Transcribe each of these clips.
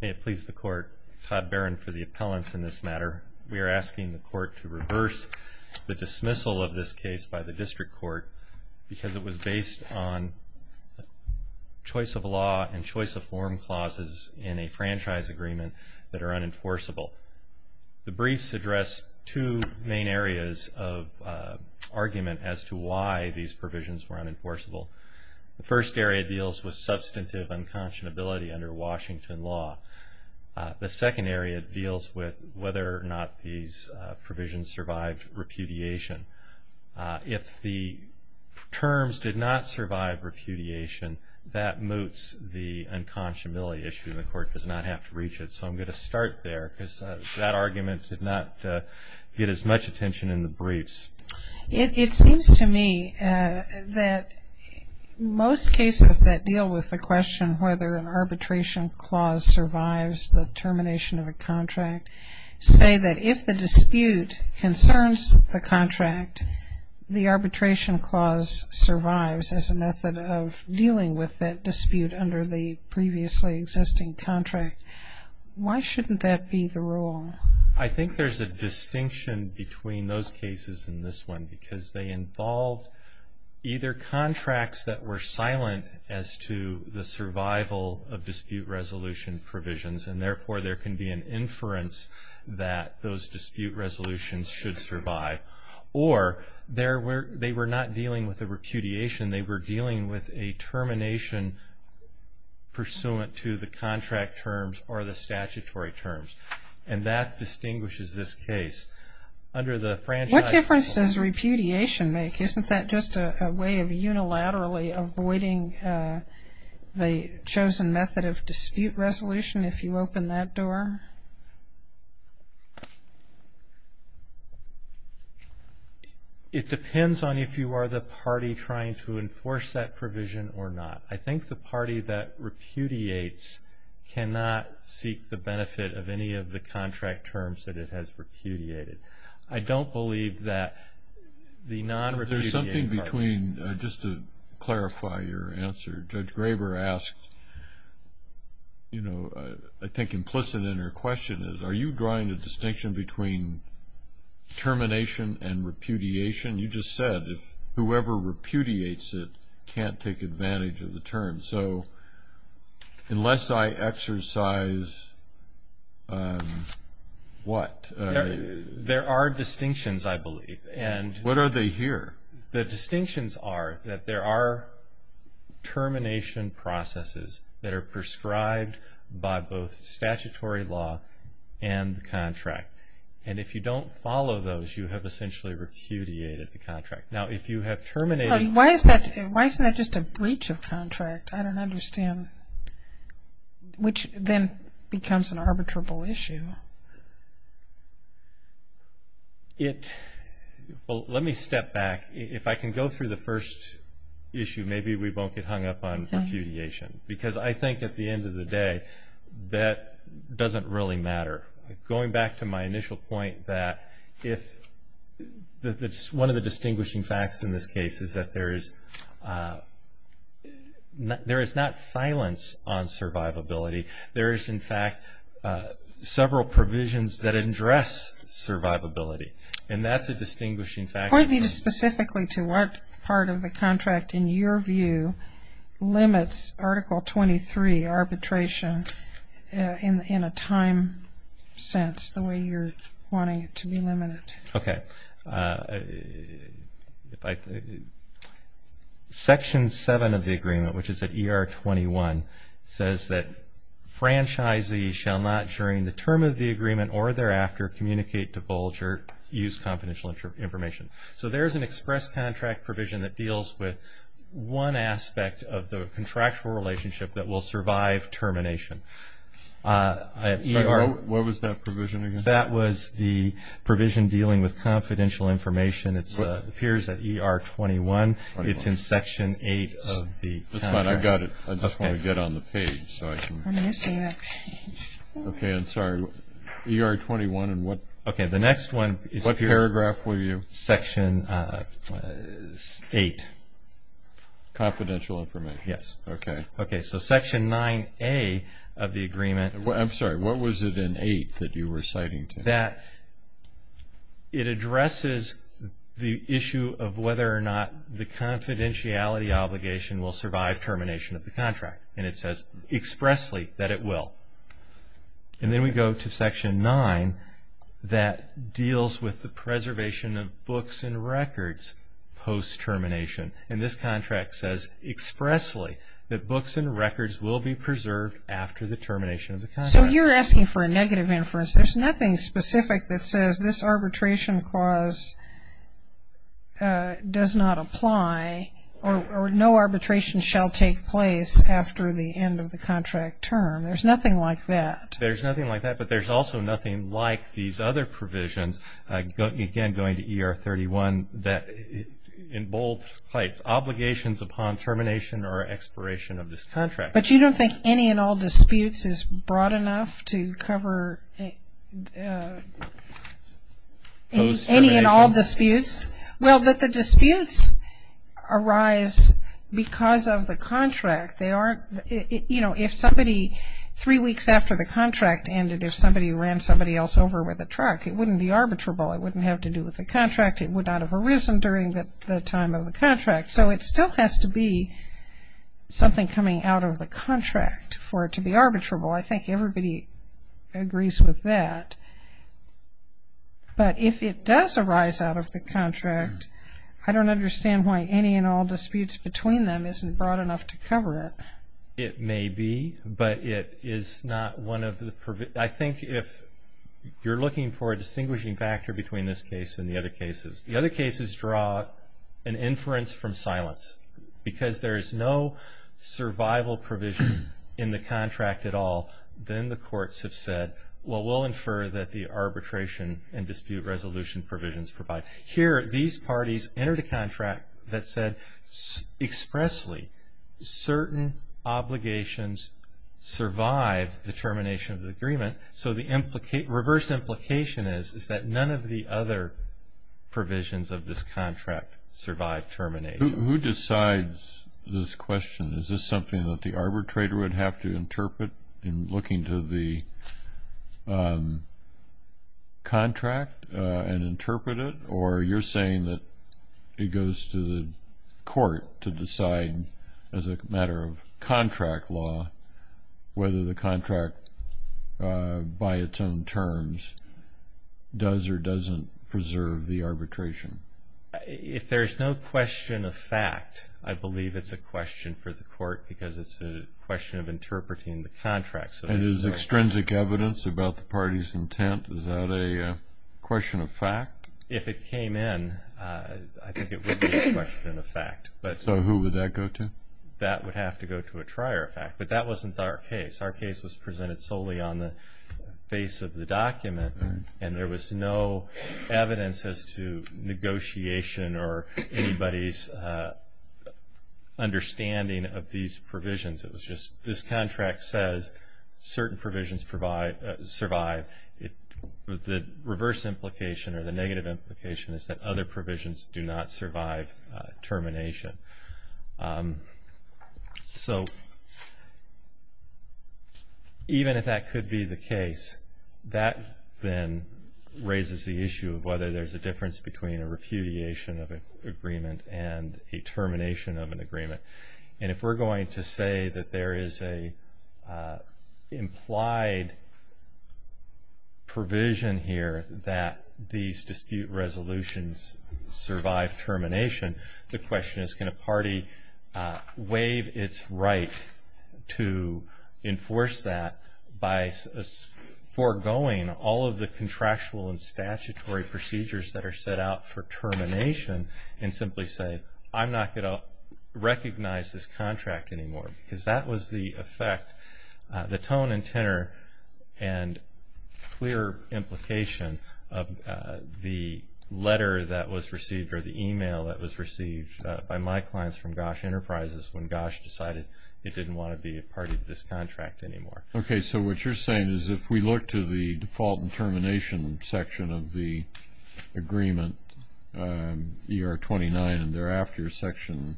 May it please the Court, Todd Barron for the appellants in this matter. We are asking the Court to reverse the dismissal of this case by the District Court because it was based on choice-of-law and choice-of-form clauses in a franchise agreement that are unenforceable. The briefs address two main areas of argument as to why these provisions were unenforceable. The first area deals with substantive unconscionability under Washington law. The second area deals with whether or not these provisions survived repudiation. If the terms did not survive repudiation, that moots the unconscionability issue, and the Court does not have to reach it. So I'm going to start there because that argument did not get as much attention in the briefs. It seems to me that most cases that deal with the question whether an arbitration clause survives the termination of a contract say that if the dispute concerns the contract, the arbitration clause survives as a method of dealing with that dispute under the previously existing contract. Why shouldn't that be the rule? I think there's a distinction between those cases and this one because they involved either contracts that were silent as to the survival of dispute resolution provisions, and therefore there can be an inference that those dispute resolutions should survive, or they were not dealing with a repudiation. They were dealing with a termination pursuant to the contract terms or the statutory terms. And that distinguishes this case. What difference does repudiation make? Isn't that just a way of unilaterally avoiding the chosen method of dispute resolution if you open that door? It depends on if you are the party trying to enforce that provision or not. I think the party that repudiates cannot seek the benefit of any of the contract terms that it has repudiated. I don't believe that the non-repudiated party... There's something between, just to clarify your answer, Judge Graber asked, you know, I think implicit in her question is, are you drawing a distinction between termination and repudiation? You just said whoever repudiates it can't take advantage of the terms. So unless I exercise what? There are distinctions, I believe. What are they here? The distinctions are that there are termination processes that are prescribed by both statutory law and the contract. And if you don't follow those, you have essentially repudiated the contract. Now, if you have terminated... Why isn't that just a breach of contract? I don't understand. Which then becomes an arbitrable issue. Well, let me step back. If I can go through the first issue, maybe we won't get hung up on repudiation. Because I think at the end of the day, that doesn't really matter. Going back to my initial point that one of the distinguishing facts in this case is that there is not silence on survivability. There is, in fact, several provisions that address survivability. And that's a distinguishing fact. Point me just specifically to what part of the contract, in your view, limits Article 23 arbitration in a time sense, the way you're wanting it to be limited. Okay. Section 7 of the agreement, which is at ER 21, says that franchisees shall not, during the term of the agreement or thereafter, communicate, divulge, or use confidential information. So there's an express contract provision that deals with one aspect of the contractual relationship that will survive termination. What was that provision again? That was the provision dealing with confidential information. It appears at ER 21. It's in Section 8 of the contract. That's fine. I got it. I just want to get on the page. Okay. I'm sorry. ER 21 and what? Okay. The next one is here. Which paragraph were you? Section 8. Confidential information. Yes. Okay. Okay. So Section 9A of the agreement. I'm sorry. What was it in 8 that you were citing to me? That it addresses the issue of whether or not the confidentiality obligation will survive termination of the contract. And it says expressly that it will. And then we go to Section 9 that deals with the preservation of books and records post-termination. And this contract says expressly that books and records will be preserved after the termination of the contract. So you're asking for a negative inference. There's nothing specific that says this arbitration clause does not apply or no arbitration shall take place after the end of the contract term. There's nothing like that. There's nothing like that. But there's also nothing like these other provisions, again going to ER 31, that in bold cite obligations upon termination or expiration of this contract. But you don't think any and all disputes is broad enough to cover any and all disputes? Well, that the disputes arise because of the contract. You know, if somebody three weeks after the contract ended, if somebody ran somebody else over with a truck, it wouldn't be arbitrable. It wouldn't have to do with the contract. It would not have arisen during the time of the contract. So it still has to be something coming out of the contract for it to be arbitrable. I think everybody agrees with that. But if it does arise out of the contract, I don't understand why any and all disputes between them isn't broad enough to cover it. It may be, but it is not one of the provisions. I think if you're looking for a distinguishing factor between this case and the other cases, the other cases draw an inference from silence because there is no survival provision in the contract at all. Then the courts have said, well, we'll infer that the arbitration and dispute resolution provisions provide. Here, these parties entered a contract that said expressly, certain obligations survive the termination of the agreement. So the reverse implication is that none of the other provisions of this contract survive termination. Who decides this question? Is this something that the arbitrator would have to interpret in looking to the contract or you're saying that it goes to the court to decide as a matter of contract law whether the contract by its own terms does or doesn't preserve the arbitration? If there's no question of fact, I believe it's a question for the court because it's a question of interpreting the contract. It is extrinsic evidence about the party's intent. Is that a question of fact? If it came in, I think it would be a question of fact. So who would that go to? That would have to go to a trier of fact, but that wasn't our case. Our case was presented solely on the face of the document, and there was no evidence as to negotiation or anybody's understanding of these provisions. It was just this contract says certain provisions survive. The reverse implication or the negative implication is that other provisions do not survive termination. So even if that could be the case, that then raises the issue of whether there's a difference between a repudiation of an agreement and a termination of an agreement. And if we're going to say that there is an implied provision here that these dispute resolutions survive termination, the question is can a party waive its right to enforce that by foregoing all of the contractual and statutory procedures that are set out for termination and simply say, I'm not going to recognize this contract anymore because that was the effect, the tone and tenor and clear implication of the letter that was received or the e-mail that was received by my clients from GOSH Enterprises when GOSH decided it didn't want to be a party to this contract anymore. Okay, so what you're saying is if we look to the default and termination section of the agreement, ER 29 and thereafter section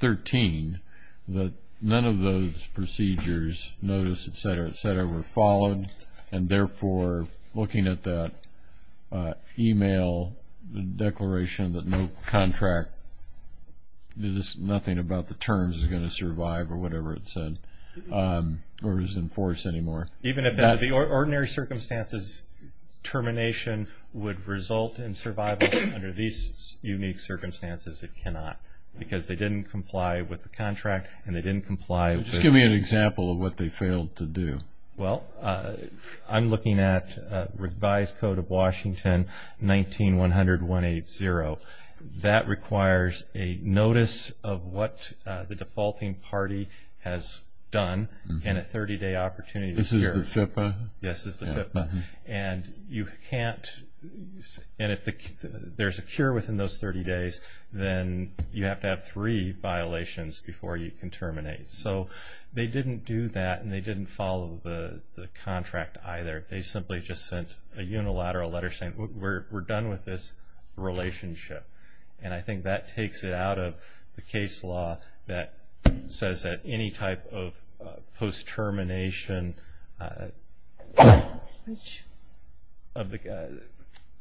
13, that none of those procedures, notice, et cetera, et cetera, were followed and therefore looking at that e-mail declaration that no contract, nothing about the terms is going to survive or whatever it said or is enforced anymore. Even if under the ordinary circumstances termination would result in survival, under these unique circumstances it cannot because they didn't comply with the contract and they didn't comply with the... Just give me an example of what they failed to do. Well, I'm looking at revised Code of Washington, 19-100-180. That requires a notice of what the defaulting party has done and a 30-day opportunity. This is the FIPPA? Yes, this is the FIPPA. And if there's a cure within those 30 days, then you have to have three violations before you can terminate. So they didn't do that and they didn't follow the contract either. They simply just sent a unilateral letter saying we're done with this relationship. And I think that takes it out of the case law that says that any type of post-termination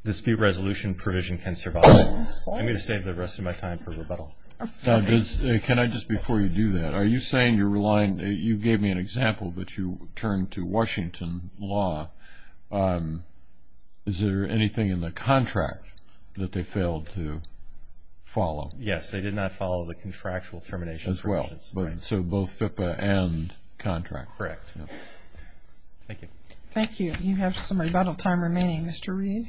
dispute resolution provision can survive. I'm going to save the rest of my time for rebuttal. Can I just, before you do that, are you saying you're relying, you gave me an example, but you turned to Washington law. Is there anything in the contract that they failed to follow? Yes, they did not follow the contractual termination. As well. So both FIPPA and contract. Correct. Thank you. Thank you. You have some rebuttal time remaining. Mr. Reed.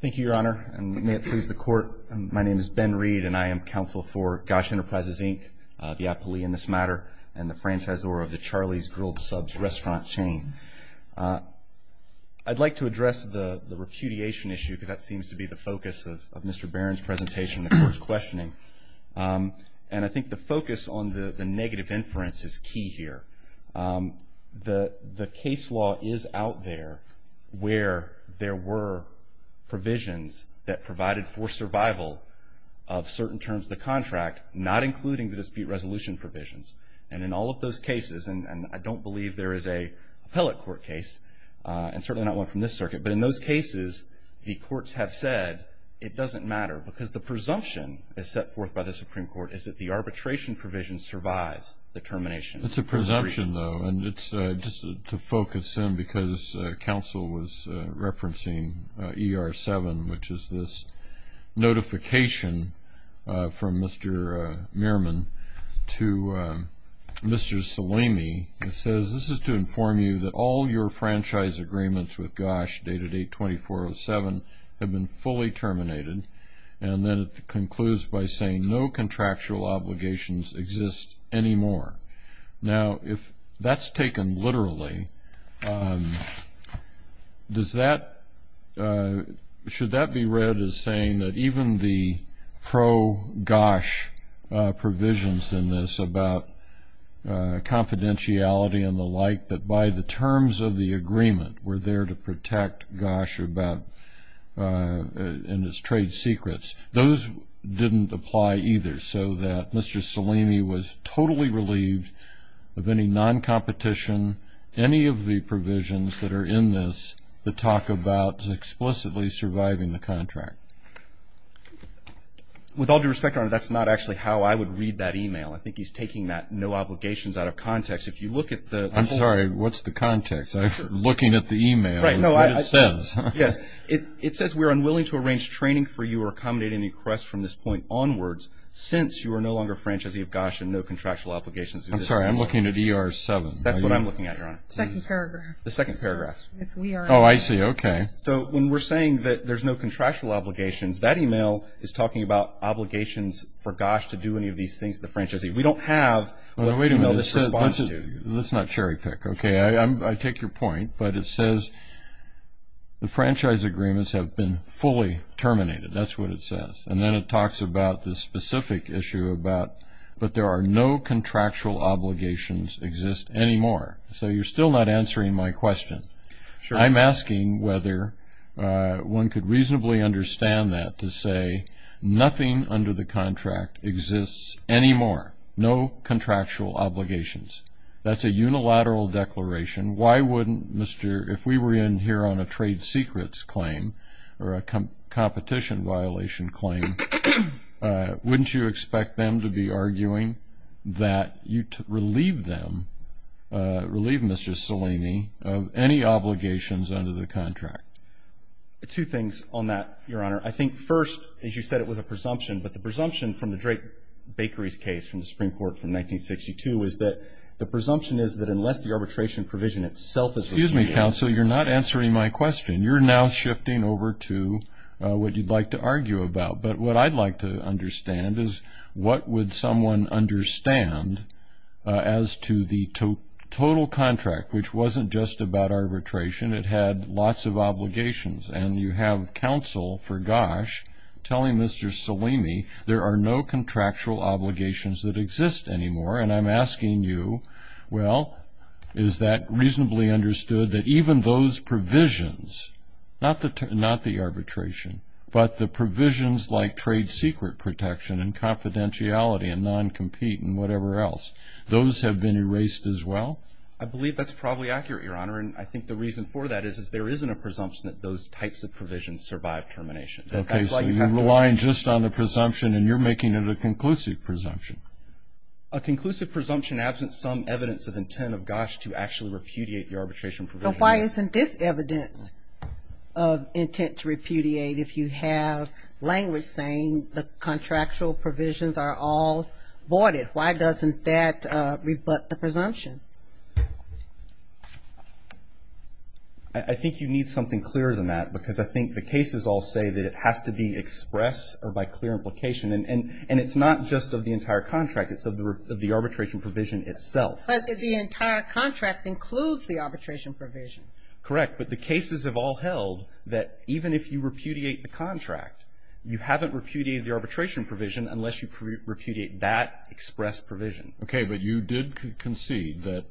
Thank you, Your Honor, and may it please the Court, my name is Ben Reed and I am counsel for GOSH Enterprises, Inc., the appellee in this matter, and the franchisor of the Charlie's Grilled Subs restaurant chain. I'd like to address the repudiation issue because that seems to be the focus of Mr. Barron's presentation and the Court's questioning. And I think the focus on the negative inference is key here. The case law is out there where there were provisions that provided for survival of certain terms of the contract, not including the dispute resolution provisions. And in all of those cases, and I don't believe there is an appellate court case, and certainly not one from this circuit, but in those cases the courts have said it doesn't matter because the presumption is set forth by the Supreme Court is that the arbitration provision survives the termination. It's a presumption, though, and it's just to focus in because counsel was referencing ER-7, which is this notification from Mr. Meerman to Mr. Salimi. It says, this is to inform you that all your franchise agreements with GOSH, dated 8-24-07, have been fully terminated. And then it concludes by saying, no contractual obligations exist anymore. Now, if that's taken literally, should that be read as saying that even the pro-GOSH provisions in this, about confidentiality and the like, that by the terms of the agreement were there to protect GOSH and its trade secrets, those didn't apply either so that Mr. Salimi was totally relieved of any non-competition, any of the provisions that are in this that talk about explicitly surviving the contract. With all due respect, Your Honor, that's not actually how I would read that e-mail. I think he's taking that no obligations out of context. If you look at the- I'm sorry, what's the context? I'm looking at the e-mail. Right, no, I- It says- Yes, it says, we are unwilling to arrange training for you or accommodate any request from this point onwards since you are no longer franchisee of GOSH and no contractual obligations exist anymore. I'm sorry, I'm looking at ER-7. That's what I'm looking at, Your Honor. The second paragraph. The second paragraph. Oh, I see. Okay. So when we're saying that there's no contractual obligations, that e-mail is talking about obligations for GOSH to do any of these things, the franchisee. We don't have what the e-mail is responding to. Wait a minute. Let's not cherry-pick. Okay. I take your point, but it says the franchise agreements have been fully terminated. That's what it says. And then it talks about this specific issue about, but there are no contractual obligations exist anymore. So you're still not answering my question. I'm asking whether one could reasonably understand that to say nothing under the contract exists anymore, no contractual obligations. That's a unilateral declaration. Why wouldn't Mr. If we were in here on a trade secrets claim or a competition violation claim, wouldn't you expect them to be arguing that you relieve them, relieve Mr. Salini of any obligations under the contract? Two things on that, Your Honor. I think first, as you said, it was a presumption. But the presumption from the Drake Bakeries case from the Supreme Court from 1962 is that the presumption is that unless the arbitration provision itself is reviewed. Excuse me, counsel. You're not answering my question. You're now shifting over to what you'd like to argue about. But what I'd like to understand is what would someone understand as to the total contract, which wasn't just about arbitration. It had lots of obligations. And you have counsel, for gosh, telling Mr. Salini there are no contractual obligations that exist anymore. And I'm asking you, well, is that reasonably understood that even those provisions, not the arbitration, but the provisions like trade secret protection and confidentiality and non-compete and whatever else, those have been erased as well? I believe that's probably accurate, Your Honor. And I think the reason for that is there isn't a presumption that those types of provisions survive termination. Okay, so you're relying just on the presumption, and you're making it a conclusive presumption. A conclusive presumption absent some evidence of intent of, gosh, to actually repudiate the arbitration provision. But why isn't this evidence of intent to repudiate if you have language saying the contractual provisions are all voided? Why doesn't that rebut the presumption? I think you need something clearer than that, because I think the cases all say that it has to be expressed or by clear implication. And it's not just of the entire contract. It's of the arbitration provision itself. But the entire contract includes the arbitration provision. Correct, but the cases have all held that even if you repudiate the contract, you haven't repudiated the arbitration provision unless you repudiate that express provision. Okay, but you did concede that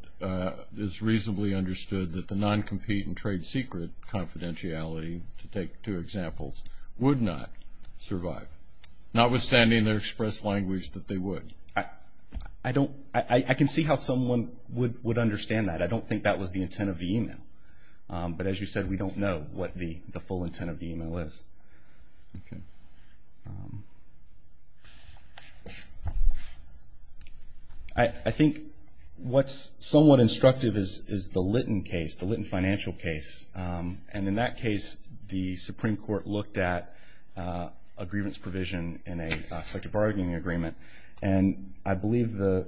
it's reasonably understood that the non-compete and trade secret confidentiality, to take two examples, would not survive, notwithstanding their express language that they would. I don't – I can see how someone would understand that. But as you said, we don't know what the full intent of the email is. Okay. I think what's somewhat instructive is the Litton case, the Litton financial case. And in that case, the Supreme Court looked at a grievance provision in a collective bargaining agreement. And I believe the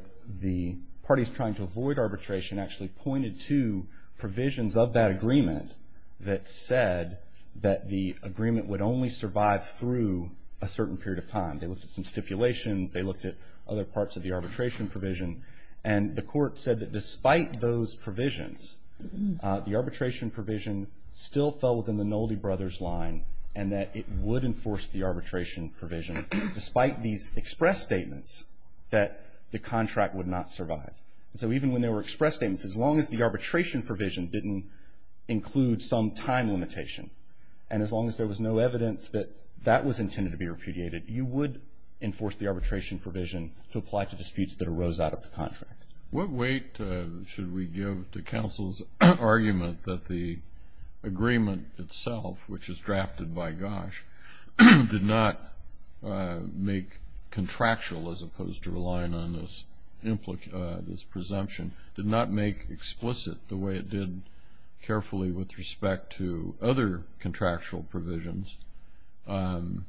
parties trying to avoid arbitration actually pointed to provisions of that agreement that said that the agreement would only survive through a certain period of time. They looked at some stipulations. They looked at other parts of the arbitration provision. And the court said that despite those provisions, the arbitration provision still fell within the Nolde brothers' line and that it would enforce the arbitration provision. Despite these express statements that the contract would not survive. And so even when there were express statements, as long as the arbitration provision didn't include some time limitation and as long as there was no evidence that that was intended to be repudiated, you would enforce the arbitration provision to apply to disputes that arose out of the contract. What weight should we give to counsel's argument that the agreement itself, which is drafted by Gosch, did not make contractual, as opposed to relying on this presumption, did not make explicit the way it did carefully with respect to other contractual provisions, that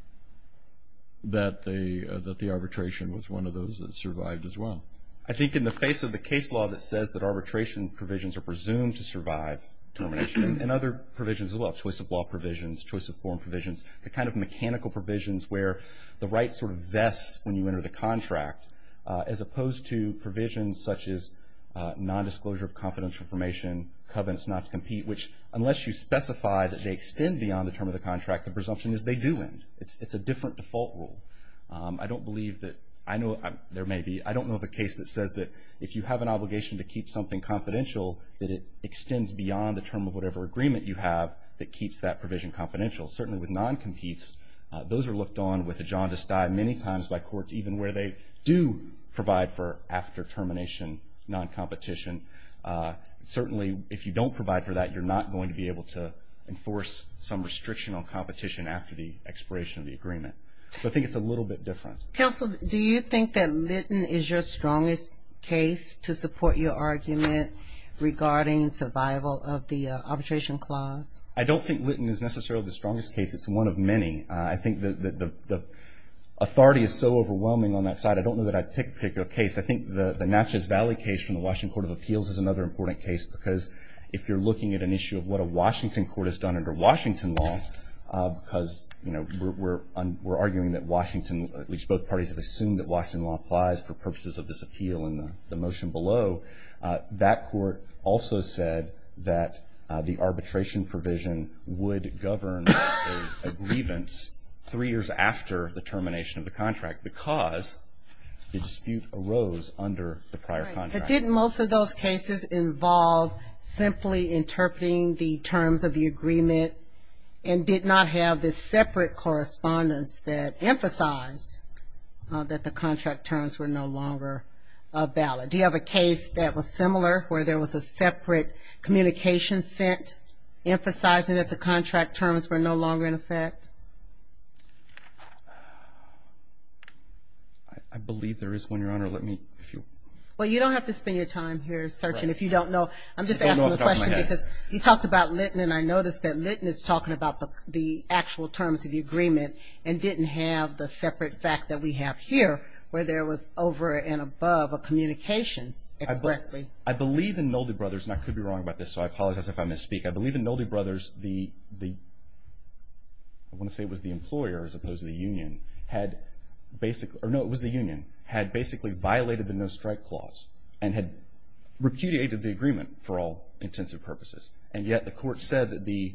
the arbitration was one of those that survived as well? I think in the face of the case law that says that arbitration provisions are presumed to survive termination and other provisions as well, choice of law provisions, choice of form provisions, the kind of mechanical provisions where the right sort of vests when you enter the contract, as opposed to provisions such as nondisclosure of confidential information, covenants not to compete, which unless you specify that they extend beyond the term of the contract, the presumption is they do end. It's a different default rule. I don't believe that, I know there may be, I don't know of a case that says that if you have an obligation to keep something confidential, that it extends beyond the term of whatever agreement you have that keeps that provision confidential. Certainly with non-competes, those are looked on with a jaundiced eye many times by courts, even where they do provide for after termination non-competition. Certainly if you don't provide for that, you're not going to be able to enforce some restriction on competition after the expiration of the agreement. So I think it's a little bit different. Counsel, do you think that Litton is your strongest case to support your argument regarding survival of the arbitration clause? I don't think Litton is necessarily the strongest case. It's one of many. I think the authority is so overwhelming on that side, I don't know that I'd pick a particular case. I think the Natchez Valley case from the Washington Court of Appeals is another important case, because if you're looking at an issue of what a Washington court has done under Washington law, because, you know, we're arguing that Washington, at least both parties have assumed that Washington law applies for purposes of this appeal in the motion below, that court also said that the arbitration provision would govern a grievance three years after the termination of the contract, because the dispute arose under the prior contract. But didn't most of those cases involve simply interpreting the terms of the agreement and did not have the separate correspondence that emphasized that the contract terms were no longer valid? Do you have a case that was similar, where there was a separate communication sent, emphasizing that the contract terms were no longer in effect? I believe there is one, Your Honor. Well, you don't have to spend your time here searching. If you don't know, I'm just asking the question, because you talked about Litton, and I noticed that Litton is talking about the actual terms of the agreement and didn't have the separate fact that we have here, where there was over and above a communication expressly. I believe in Nolde Brothers, and I could be wrong about this, so I apologize if I misspeak. I believe in Nolde Brothers, I want to say it was the employer as opposed to the union, had basically violated the no-strike clause and had repudiated the agreement for all intensive purposes. And yet the court said that the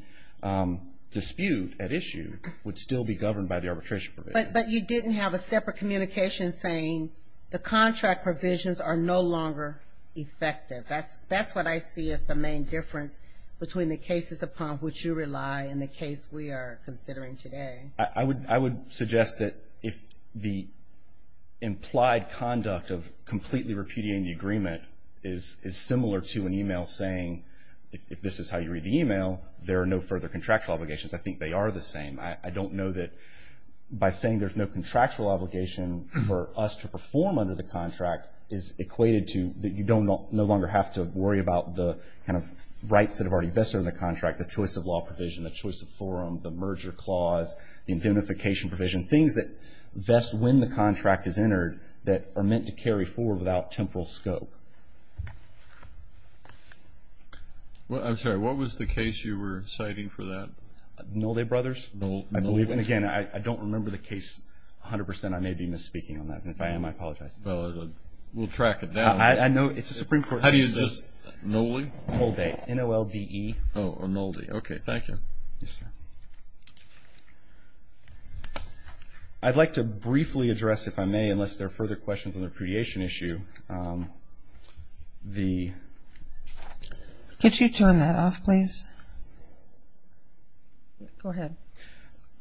dispute at issue would still be governed by the arbitration provision. But you didn't have a separate communication saying the contract provisions are no longer effective. That's what I see as the main difference between the cases upon which you rely and the case we are considering today. I would suggest that if the implied conduct of completely repudiating the agreement is similar to an email saying, if this is how you read the email, there are no further contractual obligations. I think they are the same. I don't know that by saying there's no contractual obligation for us to perform under the contract is equated to that you no longer have to worry about the kind of rights that have already vested in the contract, the choice of law provision, the choice of forum, the merger clause, the indemnification provision, things that vest when the contract is entered that are meant to carry forward without temporal scope. I'm sorry, what was the case you were citing for that? Nolde Brothers, I believe. And again, I don't remember the case 100%. I may be misspeaking on that. And if I am, I apologize. We'll track it down. I know it's a Supreme Court case. How do you say it? Nolde? Nolde. N-O-L-D-E. Oh, Nolde. Okay, thank you. Yes, sir. I'd like to briefly address, if I may, unless there are further questions on the repudiation issue. Could you turn that off, please? Go ahead.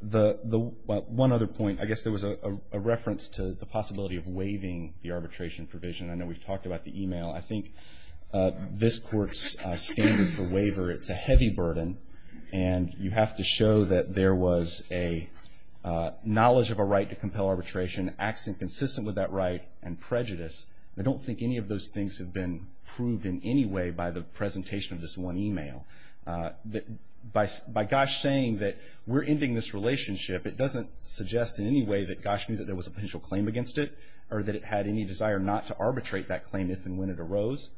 One other point. I guess there was a reference to the possibility of waiving the arbitration provision. I know we've talked about the email. I think this Court's standard for waiver, it's a heavy burden, and you have to show that there was a knowledge of a right to compel arbitration, acts inconsistent with that right, and prejudice. I don't think any of those things have been proved in any way by the presentation of this one email. By Gosch saying that we're ending this relationship, it doesn't suggest in any way that Gosch knew that there was a potential claim against it or that it had any desire not to arbitrate that claim if and when it arose.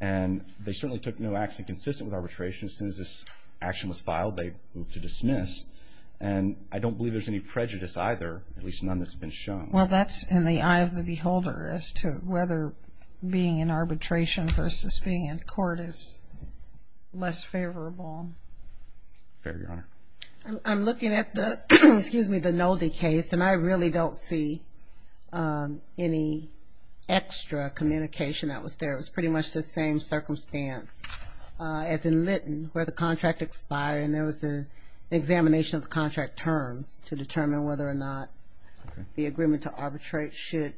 And they certainly took no action consistent with arbitration. As soon as this action was filed, they moved to dismiss. And I don't believe there's any prejudice either, at least none that's been shown. Well, that's in the eye of the beholder as to whether being in arbitration versus being in court is less favorable. Fair, Your Honor. I'm looking at the Nolde case, and I really don't see any extra communication that was there. It was pretty much the same circumstance as in Litton where the contract expired and there was an examination of the contract terms to determine whether or not the agreement to arbitrate should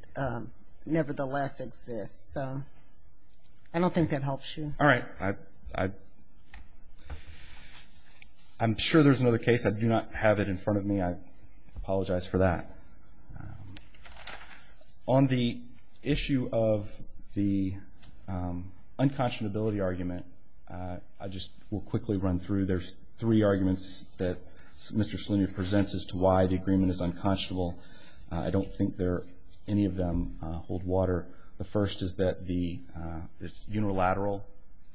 nevertheless exist. So I don't think that helps you. All right. I'm sure there's another case. I do not have it in front of me. I apologize for that. On the issue of the unconscionability argument, I just will quickly run through. There's three arguments that Mr. Salini presents as to why the agreement is unconscionable. I don't think any of them hold water. The first is that it's unilateral.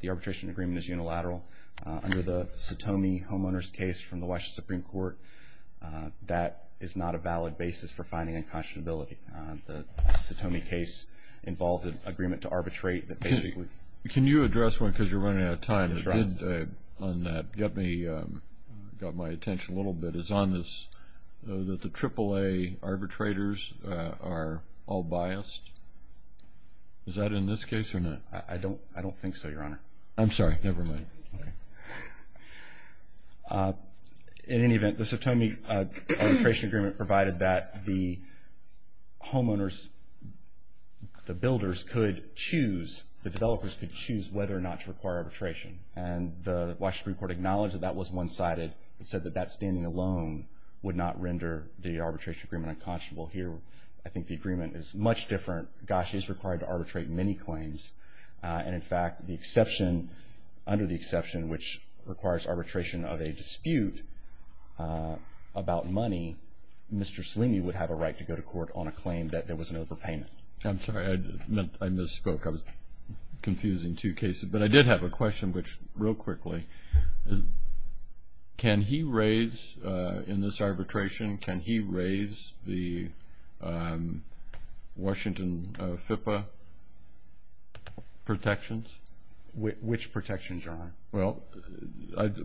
The arbitration agreement is unilateral. Under the Satomi homeowner's case from the Washington Supreme Court, that is not a valid basis for finding unconscionability. The Satomi case involved an agreement to arbitrate that basically- Can you address one because you're running out of time? Yes, Your Honor. One that got my attention a little bit is that the AAA arbitrators are all biased. Is that in this case or not? I don't think so, Your Honor. I'm sorry. Never mind. In any event, the Satomi arbitration agreement provided that the homeowners, the builders could choose, the developers could choose whether or not to require arbitration. And the Washington Supreme Court acknowledged that that was one-sided and said that that standing alone would not render the arbitration agreement unconscionable here. I think the agreement is much different. GOSH is required to arbitrate many claims. And, in fact, the exception, under the exception, which requires arbitration of a dispute about money, Mr. Salini would have a right to go to court on a claim that there was an overpayment. I'm sorry. I misspoke. I was confusing two cases. But I did have a question, which, real quickly, can he raise in this arbitration, can he raise the Washington FIPPA protections? Which protections, Your Honor? Well,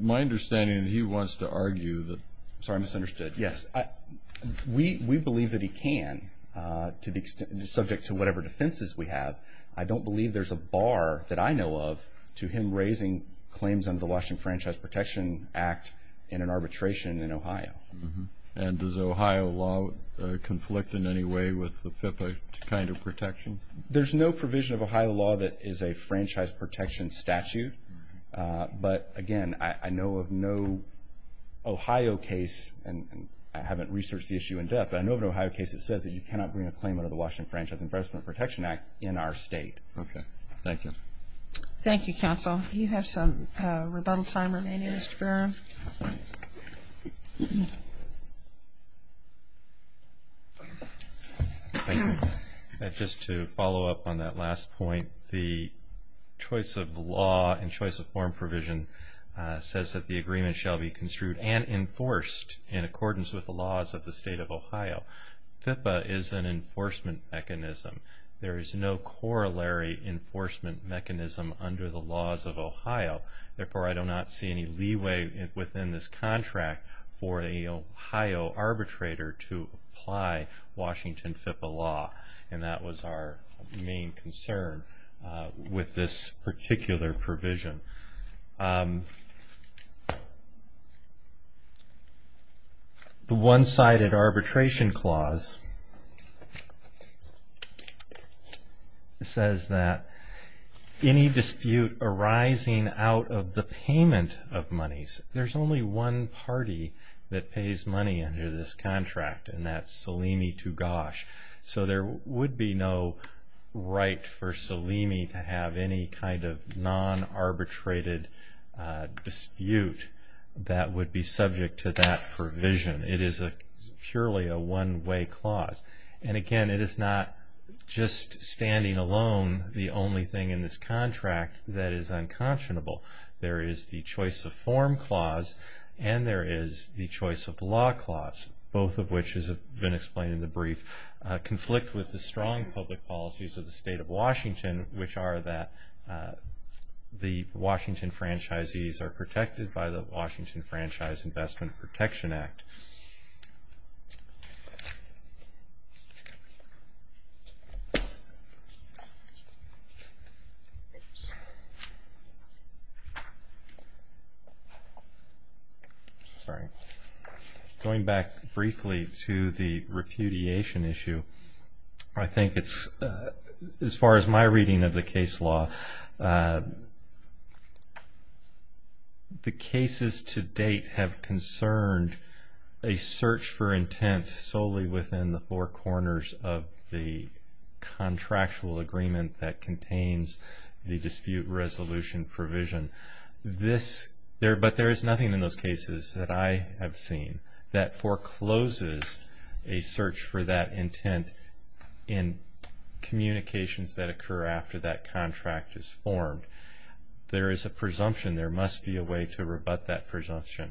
my understanding is that he wants to argue that – sorry, I misunderstood. Yes. We believe that he can, subject to whatever defenses we have. I don't believe there's a bar that I know of to him raising claims under the Washington Franchise Protection Act in an arbitration in Ohio. And does Ohio law conflict in any way with the FIPPA kind of protections? There's no provision of Ohio law that is a franchise protection statute. But, again, I know of no Ohio case, and I haven't researched the issue in depth, but I know of an Ohio case that says that you cannot bring a claim under the state. Okay. Thank you. Thank you, counsel. You have some rebuttal time remaining, Mr. Barron. Thank you. Just to follow up on that last point, the choice of law and choice of form provision says that the agreement shall be construed and enforced in accordance with the laws of the state of Ohio. FIPPA is an enforcement mechanism. There is no corollary enforcement mechanism under the laws of Ohio. Therefore, I do not see any leeway within this contract for an Ohio arbitrator to apply Washington FIPPA law. And that was our main concern with this particular provision. The one-sided arbitration clause says that any dispute arising out of the payment of monies, there's only one party that pays money under this contract, and that's Salimi Tugash. So there would be no right for Salimi to have any kind of non-arbitrated dispute that would be subject to that provision. It is purely a one-way clause. And, again, it is not just standing alone the only thing in this contract that is unconscionable. There is the choice of form clause and there is the choice of law clause, both of which, as has been explained in the brief, conflict with the strong public policies of the state of Washington, which are that the Washington franchisees are protected by the Washington Franchise Investment Protection Act. Sorry. Going back briefly to the repudiation issue, I think it's, as far as my reading of the case law, the cases to date have concerned a search for intent solely within the four corners of the contractual agreement that contains the dispute resolution provision. But there is nothing in those cases that I have seen that forecloses a search for that intent in communications that occur after that contract is formed. There is a presumption. There must be a way to rebut that presumption.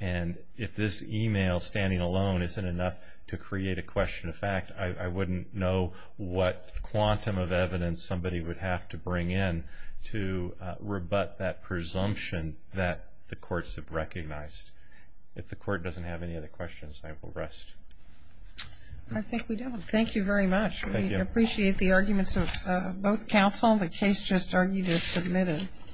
And if this email standing alone isn't enough to create a question of fact, I wouldn't know what quantum of evidence somebody would have to bring in to rebut that presumption that the courts have recognized. If the court doesn't have any other questions, I will rest. I think we do. Thank you very much. We appreciate the arguments of both counsel. The case just argued is submitted.